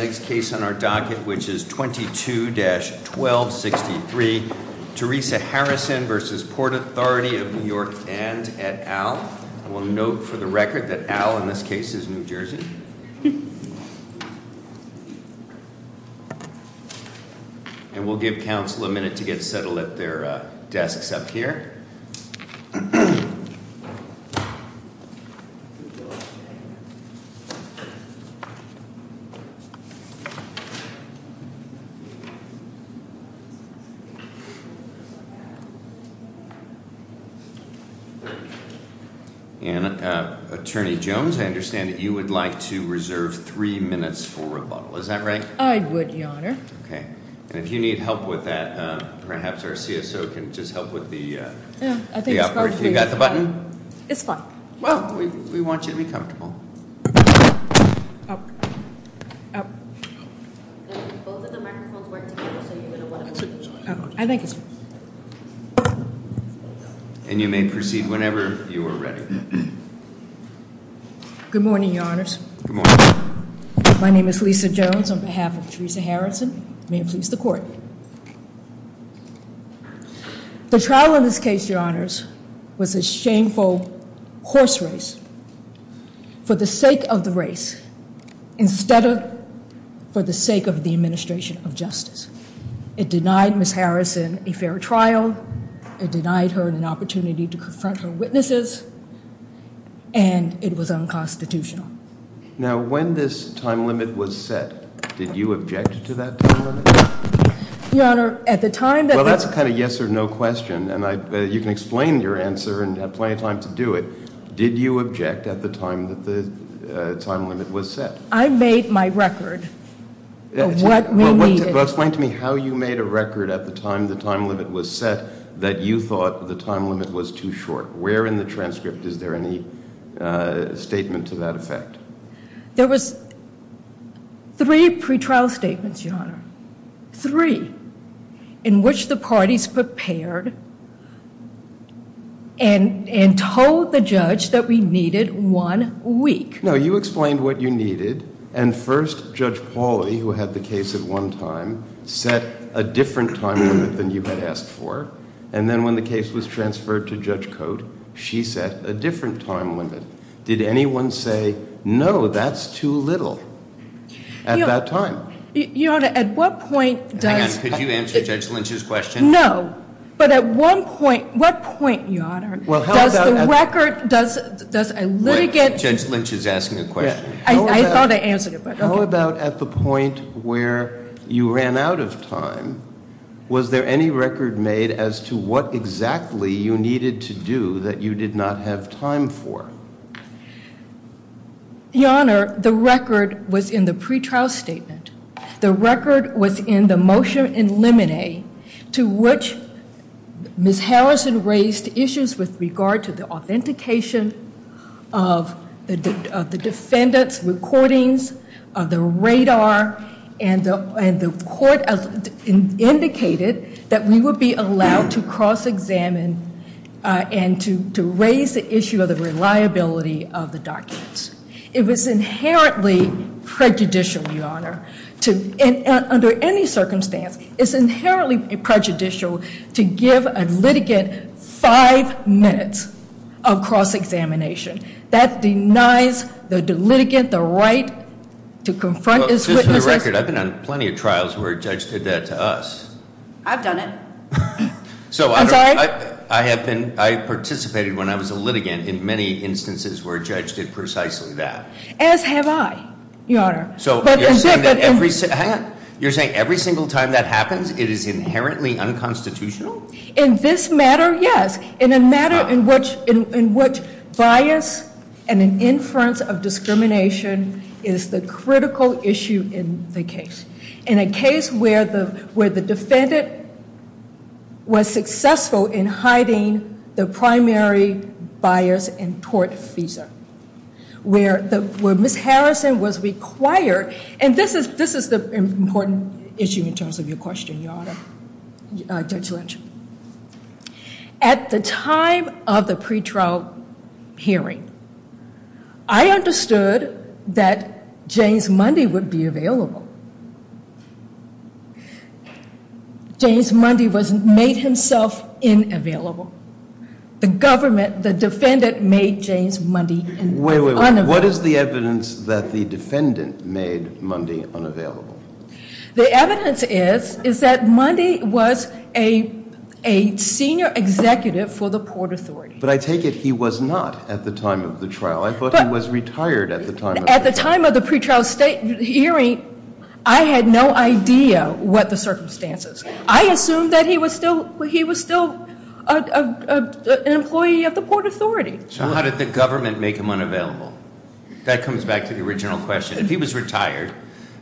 And the next case on our docket, which is 22-1263, Teresa Harrison v. Port Authority of New York and et al. We'll note for the record that Al, in this case, is New Jersey. And we'll give counsel a minute to get settled at their desks up here. And Attorney Jones, I understand that you would like to reserve three minutes for rebuttal. Is that right? I would, Your Honor. Okay. And if you need help with that, perhaps our CSO can just help with the... I think it's fine. You got the button? It's fine. Well, we want you to be comfortable. Both of the microphones weren't together, so you're going to want to... I think it's fine. And you may proceed whenever you are ready. Good morning, Your Honors. Good morning. My name is Lisa Jones on behalf of Teresa Harrison. May it please the Court. The trial in this case, Your Honors, was a shameful horse race for the sake of the race instead of for the sake of the administration of justice. It denied Ms. Harrison a fair trial. It denied her an opportunity to confront her witnesses. And it was unconstitutional. Now, when this time limit was set, did you object to that time limit? Your Honor, at the time that the... Well, that's a kind of yes or no question, and you can explain your answer and have plenty of time to do it. Did you object at the time that the time limit was set? I made my record of what we needed. Well, explain to me how you made a record at the time the time limit was set that you thought the time limit was too short. Where in the transcript is there any statement to that effect? There was three pretrial statements, Your Honor, three, in which the parties prepared and told the judge that we needed one week. No, you explained what you needed, and first Judge Pauley, who had the case at one time, set a different time limit than you had asked for. And then when the case was transferred to Judge Cote, she set a different time limit. Did anyone say, no, that's too little at that time? Your Honor, at what point does... Anne, could you answer Judge Lynch's question? No, but at what point, Your Honor, does the record, does a litigant... Judge Lynch is asking a question. I thought I answered it, but okay. How about at the point where you ran out of time? Was there any record made as to what exactly you needed to do that you did not have time for? Your Honor, the record was in the pretrial statement. The record was in the motion in limine to which Ms. Harrison raised issues with regard to the authentication of the defendants' recordings, the radar, and the court indicated that we would be allowed to cross-examine and to raise the issue of the reliability of the documents. It was inherently prejudicial, Your Honor, under any circumstance. It's inherently prejudicial to give a litigant five minutes of cross-examination. That denies the litigant the right to confront his witnesses. Just for the record, I've been on plenty of trials where a judge did that to us. I've done it. I'm sorry? I participated when I was a litigant in many instances where a judge did precisely that. As have I, Your Honor. So you're saying that every single time that happens, it is inherently unconstitutional? In this matter, yes. In a matter in which bias and an inference of discrimination is the critical issue in the case. In a case where the defendant was successful in hiding the primary bias and tort visa, where Ms. Harrison was required, and this is the important issue in terms of your question, Your Honor, Judge Lynch. At the time of the pretrial hearing, I understood that James Mundy would be available. James Mundy made himself inavailable. The government, the defendant, made James Mundy unavailable. What is the evidence that the defendant made Mundy unavailable? The evidence is that Mundy was a senior executive for the Port Authority. But I take it he was not at the time of the trial. I thought he was retired at the time. At the time of the pretrial hearing, I had no idea what the circumstances. I assumed that he was still an employee of the Port Authority. So how did the government make him unavailable? That comes back to the original question. If he was retired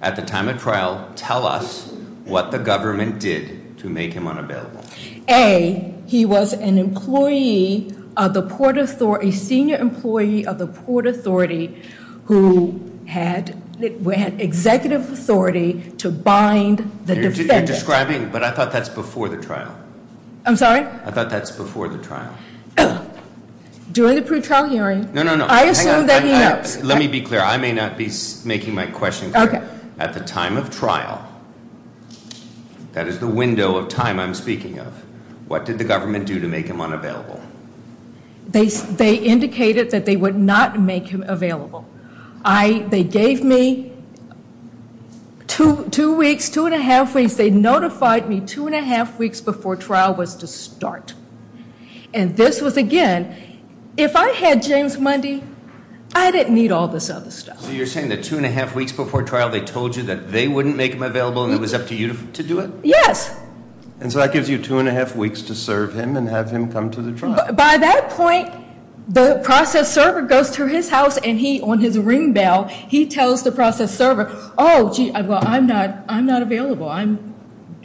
at the time of trial, tell us what the government did to make him unavailable. A, he was an employee of the Port Authority, a senior employee of the Port Authority who had executive authority to bind the defendant. You're describing, but I thought that's before the trial. I'm sorry? I thought that's before the trial. During the pretrial hearing- No, no, no. I assume that he knows. Let me be clear. I may not be making my question clear. At the time of trial, that is the window of time I'm speaking of, what did the government do to make him unavailable? They indicated that they would not make him available. They gave me two weeks, two and a half weeks. They notified me two and a half weeks before trial was to start. And this was, again, if I had James Mundy, I didn't need all this other stuff. So you're saying that two and a half weeks before trial, they told you that they wouldn't make him available and it was up to you to do it? Yes. And so that gives you two and a half weeks to serve him and have him come to the trial. By that point, the process server goes to his house and he, on his ring bell, he tells the process server, oh, well, I'm not available. I'm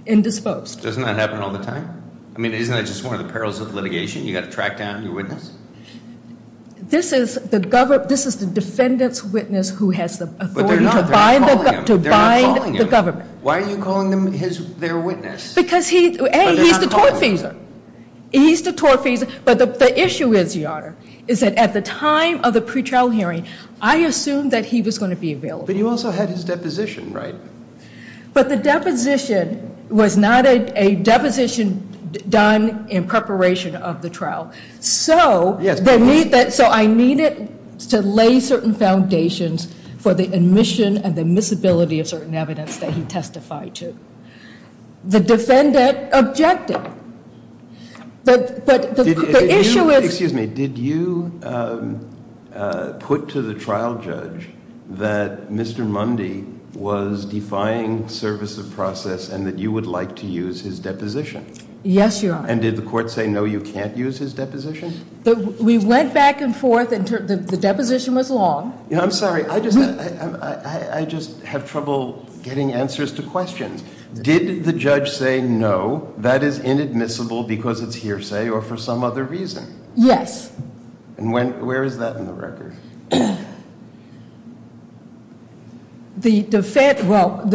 indisposed. Doesn't that happen all the time? I mean, isn't that just one of the perils of litigation? You've got to track down your witness? This is the defendant's witness who has the authority to bind the government. But they're not. They're not calling him. Why are you calling them their witness? Because he's the tortfeasor. He's the tortfeasor. But the issue is, Your Honor, is that at the time of the pretrial hearing, I assumed that he was going to be available. But you also had his deposition, right? But the deposition was not a deposition done in preparation of the trial. So I need it to lay certain foundations for the admission and the admissibility of certain evidence that he testified to. The defendant objected. But the issue is Did you put to the trial judge that Mr. Mundy was defying service of process and that you would like to use his deposition? Yes, Your Honor. And did the court say no, you can't use his deposition? We went back and forth. The deposition was long. I'm sorry. I just have trouble getting answers to questions. Did the judge say no, that is inadmissible because it's hearsay or for some other reason? Yes. And where is that in the record? Well,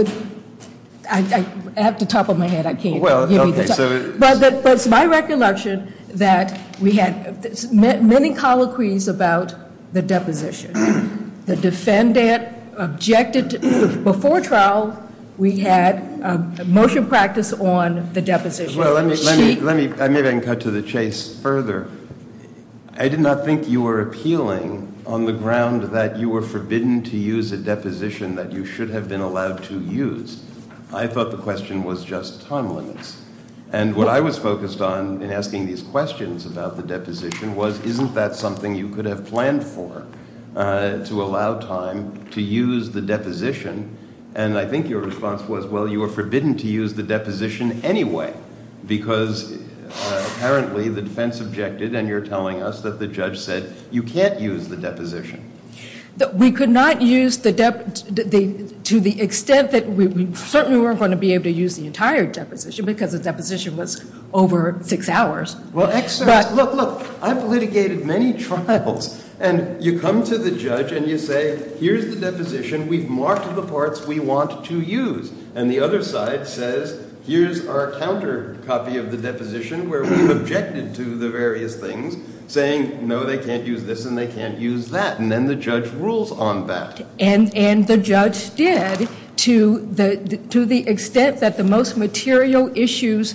I have it at the top of my head. I can't give you the top. But it's my recollection that we had many colloquies about the deposition. The defendant objected. Before trial, we had a motion practice on the deposition. Maybe I can cut to the chase further. I did not think you were appealing on the ground that you were forbidden to use a deposition that you should have been allowed to use. I thought the question was just time limits. And what I was focused on in asking these questions about the deposition was isn't that something you could have planned for to allow time to use the deposition? And I think your response was, well, you were forbidden to use the deposition anyway because apparently the defense objected, and you're telling us that the judge said you can't use the deposition. We could not use the deposition to the extent that we certainly weren't going to be able to use the entire deposition because the deposition was over six hours. Well, look, I've litigated many trials, and you come to the judge and you say, here's the deposition. We've marked the parts we want to use. And the other side says, here's our counter copy of the deposition where we've objected to the various things, saying, no, they can't use this and they can't use that. And then the judge rules on that. And the judge did to the extent that the most material issues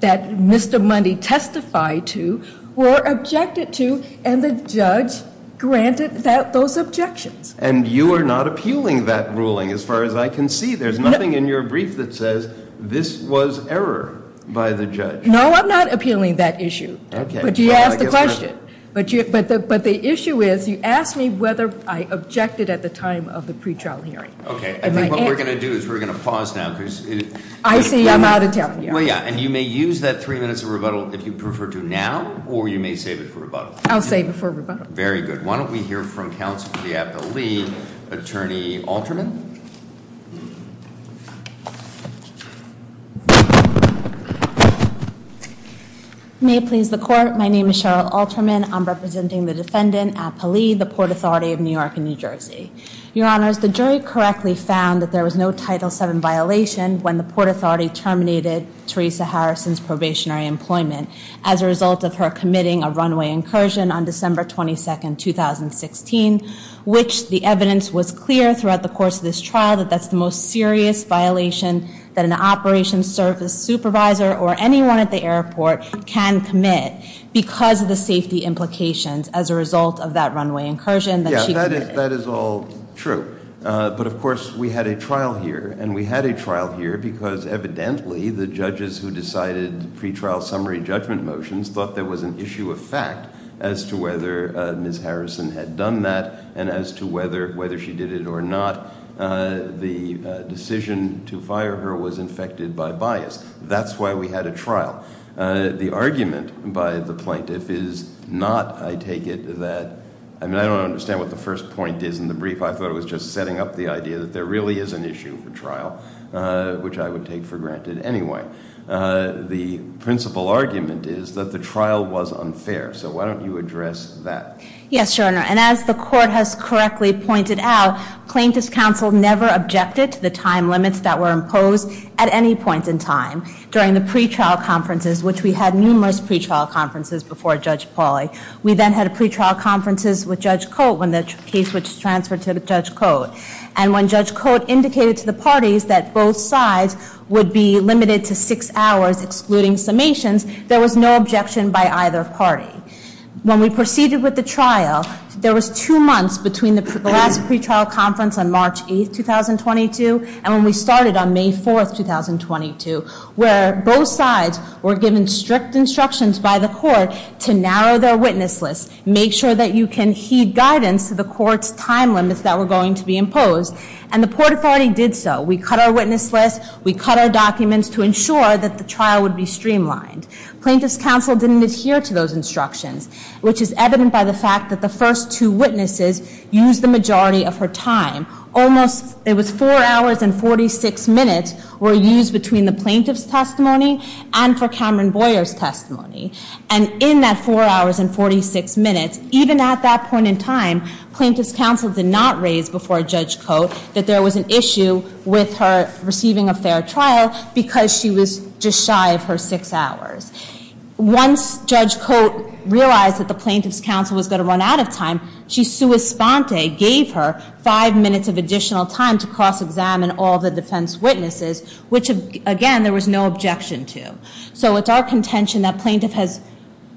that Mr. Mundy testified to were objected to, and the judge granted those objections. And you are not appealing that ruling as far as I can see. There's nothing in your brief that says this was error by the judge. No, I'm not appealing that issue. But you asked the question. But the issue is you asked me whether I objected at the time of the pretrial hearing. Okay. I think what we're going to do is we're going to pause now because- I see. I'm out of time. Well, yeah. And you may use that three minutes of rebuttal if you prefer to now, or you may save it for rebuttal. I'll save it for rebuttal. Very good. Why don't we hear from counsel for the Appellee, Attorney Alterman. May it please the court. My name is Cheryl Alterman. I'm representing the defendant, Appellee, the Port Authority of New York and New Jersey. Your Honors, the jury correctly found that there was no Title VII violation when the Port Authority terminated Teresa Harrison's probationary employment as a result of her committing a runway incursion on December 22nd, 2016, which the evidence was clear throughout the course of this trial that that's the most serious violation that an operations service supervisor or anyone at the airport can commit because of the safety implications as a result of that runway incursion that she committed. Yeah, that is all true. But of course, we had a trial here. And we had a trial here because evidently the judges who decided pre-trial summary judgment motions thought there was an issue of fact as to whether Ms. Harrison had done that, and as to whether she did it or not. The decision to fire her was infected by bias. That's why we had a trial. The argument by the plaintiff is not, I take it, that, I mean, I don't understand what the first point is in the brief. I thought it was just setting up the idea that there really is an issue for trial, which I would take for granted anyway. The principal argument is that the trial was unfair. So why don't you address that? Yes, Your Honor. And as the court has correctly pointed out, plaintiffs' counsel never objected to the time limits that were imposed at any point in time during the pre-trial conferences, which we had numerous pre-trial conferences before Judge Pauly. We then had pre-trial conferences with Judge Cote when the case was transferred to Judge Cote. And when Judge Cote indicated to the parties that both sides would be limited to six hours excluding summations, there was no objection by either party. When we proceeded with the trial, there was two months between the last pre-trial conference on March 8th, 2022, and when we started on May 4th, 2022, where both sides were given strict instructions by the court to narrow their witness list, make sure that you can heed guidance to the court's time limits that were going to be imposed, and the court authority did so. We cut our witness list. We cut our documents to ensure that the trial would be streamlined. Plaintiffs' counsel didn't adhere to those instructions, which is evident by the fact that the first two witnesses used the majority of her time. It was four hours and 46 minutes were used between the plaintiff's testimony and for Cameron Boyer's testimony. And in that four hours and 46 minutes, even at that point in time, plaintiffs' counsel did not raise before Judge Cote that there was an issue with her receiving a fair trial because she was just shy of her six hours. Once Judge Cote realized that the plaintiffs' counsel was going to run out of time, she sua sponte gave her five minutes of additional time to cross-examine all the defense witnesses, which, again, there was no objection to. So it's our contention that plaintiff has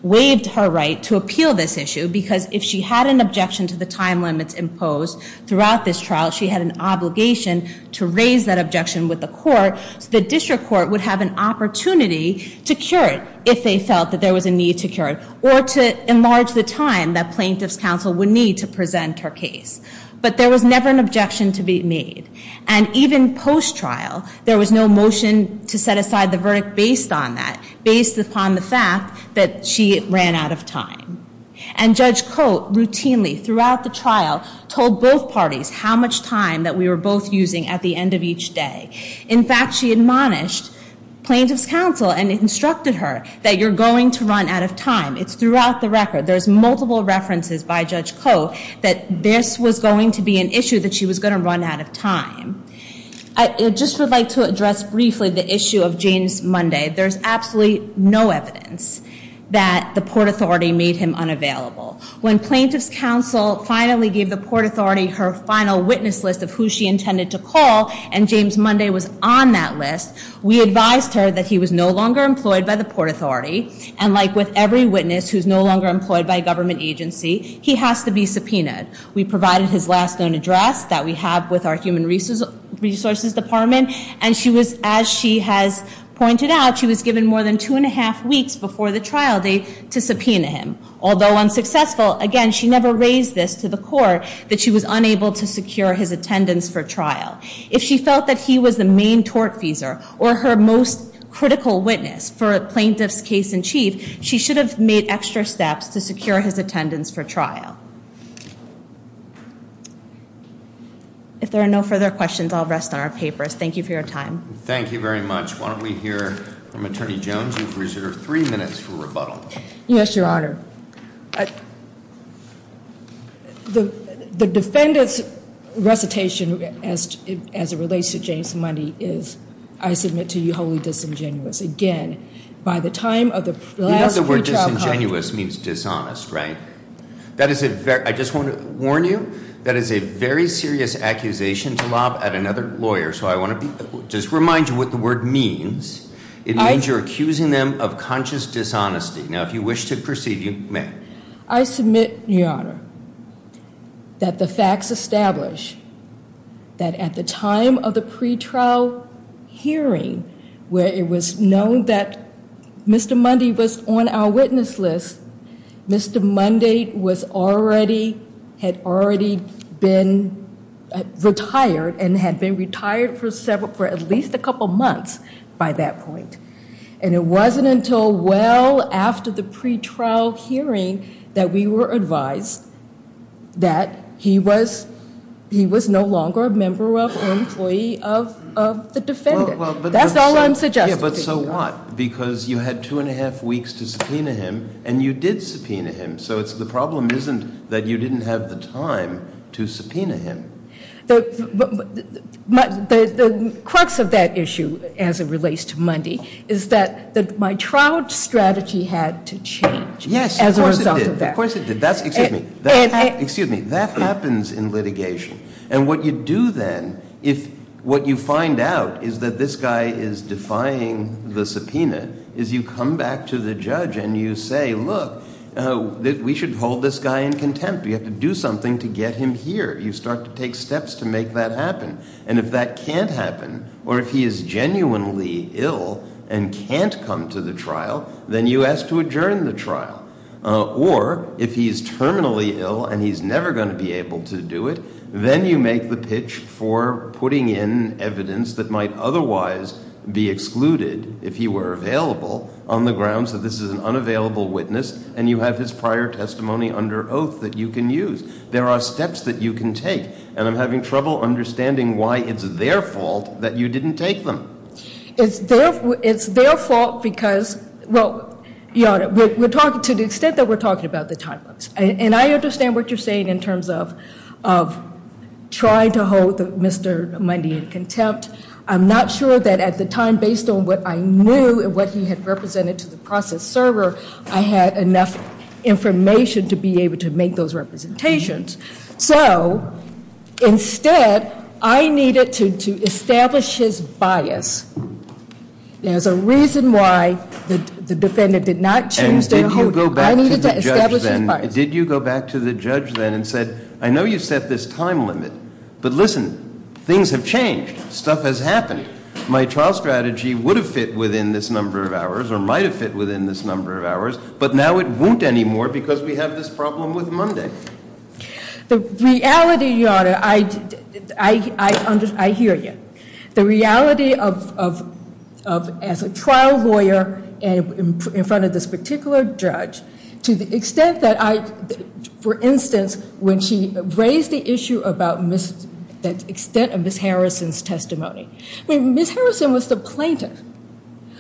waived her right to appeal this issue because if she had an objection to the time limits imposed throughout this trial, she had an obligation to raise that objection with the court so the district court would have an opportunity to cure it if they felt that there was a need to cure it or to enlarge the time that plaintiffs' counsel would need to present her case. But there was never an objection to be made. And even post-trial, there was no motion to set aside the verdict based on that, based upon the fact that she ran out of time. And Judge Cote routinely, throughout the trial, told both parties how much time that we were both using at the end of each day. In fact, she admonished plaintiffs' counsel and instructed her that you're going to run out of time. It's throughout the record. There's multiple references by Judge Cote that this was going to be an issue that she was going to run out of time. I just would like to address briefly the issue of James Munday. There's absolutely no evidence that the Port Authority made him unavailable. When plaintiffs' counsel finally gave the Port Authority her final witness list of who she intended to call and James Munday was on that list, we advised her that he was no longer employed by the Port Authority. And like with every witness who's no longer employed by a government agency, he has to be subpoenaed. We provided his last known address that we have with our Human Resources Department. And as she has pointed out, she was given more than two and a half weeks before the trial day to subpoena him. Although unsuccessful, again, she never raised this to the court that she was unable to secure his attendance for trial. If she felt that he was the main tortfeasor or her most critical witness for a plaintiff's case in chief, she should have made extra steps to secure his attendance for trial. If there are no further questions, I'll rest on our papers. Thank you for your time. Thank you very much. Why don't we hear from Attorney Jones who's reserved three minutes for rebuttal. Yes, Your Honor. Your Honor, the defendant's recitation as it relates to James Munday is, I submit to you wholly disingenuous. Again, by the time of the last pre-trial- You know the word disingenuous means dishonest, right? I just want to warn you, that is a very serious accusation to lob at another lawyer. So I want to just remind you what the word means. It means you're accusing them of conscious dishonesty. Now, if you wish to proceed, you may. I submit, Your Honor, that the facts establish that at the time of the pre-trial hearing, where it was known that Mr. Munday was on our witness list, Mr. Munday had already been retired and had been retired for at least a couple months by that point. And it wasn't until well after the pre-trial hearing that we were advised that he was no longer a member or employee of the defendant. That's all I'm suggesting. But so what? Because you had two and a half weeks to subpoena him, and you did subpoena him. So the problem isn't that you didn't have the time to subpoena him. The crux of that issue, as it relates to Munday, is that my trial strategy had to change as a result of that. Yes, of course it did. Of course it did. Excuse me. That happens in litigation. And what you do then, if what you find out is that this guy is defying the subpoena, is you come back to the judge and you say, look, we should hold this guy in contempt. We have to do something to get him here. You start to take steps to make that happen. And if that can't happen or if he is genuinely ill and can't come to the trial, then you ask to adjourn the trial. Or if he is terminally ill and he's never going to be able to do it, then you make the pitch for putting in evidence that might otherwise be excluded if he were available on the grounds that this is an unavailable witness and you have his prior testimony under oath that you can use. There are steps that you can take. And I'm having trouble understanding why it's their fault that you didn't take them. It's their fault because, well, we're talking to the extent that we're talking about the time lapse. And I understand what you're saying in terms of trying to hold Mr. Munday in contempt. I'm not sure that at the time, based on what I knew and what he had represented to the process server, I had enough information to be able to make those representations. So instead, I needed to establish his bias as a reason why the defendant did not choose to hold him. I needed to establish his bias. And did you go back to the judge then and said, I know you set this time limit, but listen, things have changed. Stuff has happened. My trial strategy would have fit within this number of hours or might have fit within this number of hours, but now it won't anymore because we have this problem with Munday. The reality, Your Honor, I hear you. The reality of as a trial lawyer in front of this particular judge to the extent that I, for instance, when she raised the issue about the extent of Ms. Harrison's testimony. Ms. Harrison was the plaintiff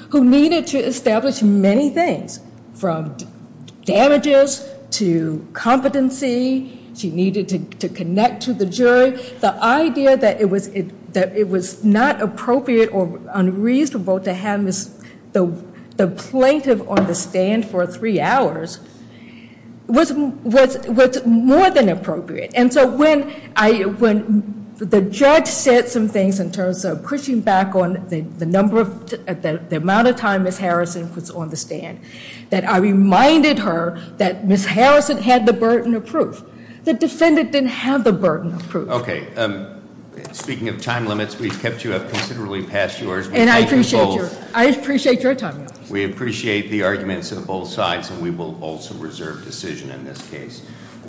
who needed to establish many things from damages to competency. She needed to connect to the jury. The idea that it was not appropriate or unreasonable to have the plaintiff on the stand for three hours was more than appropriate. And so when the judge said some things in terms of pushing back on the amount of time Ms. Harrison was on the stand, that I reminded her that Ms. Harrison had the burden of proof. The defendant didn't have the burden of proof. Okay. Speaking of time limits, we've kept you up considerably past yours. And I appreciate your time. We appreciate the arguments of both sides and we will also reserve decision in this case.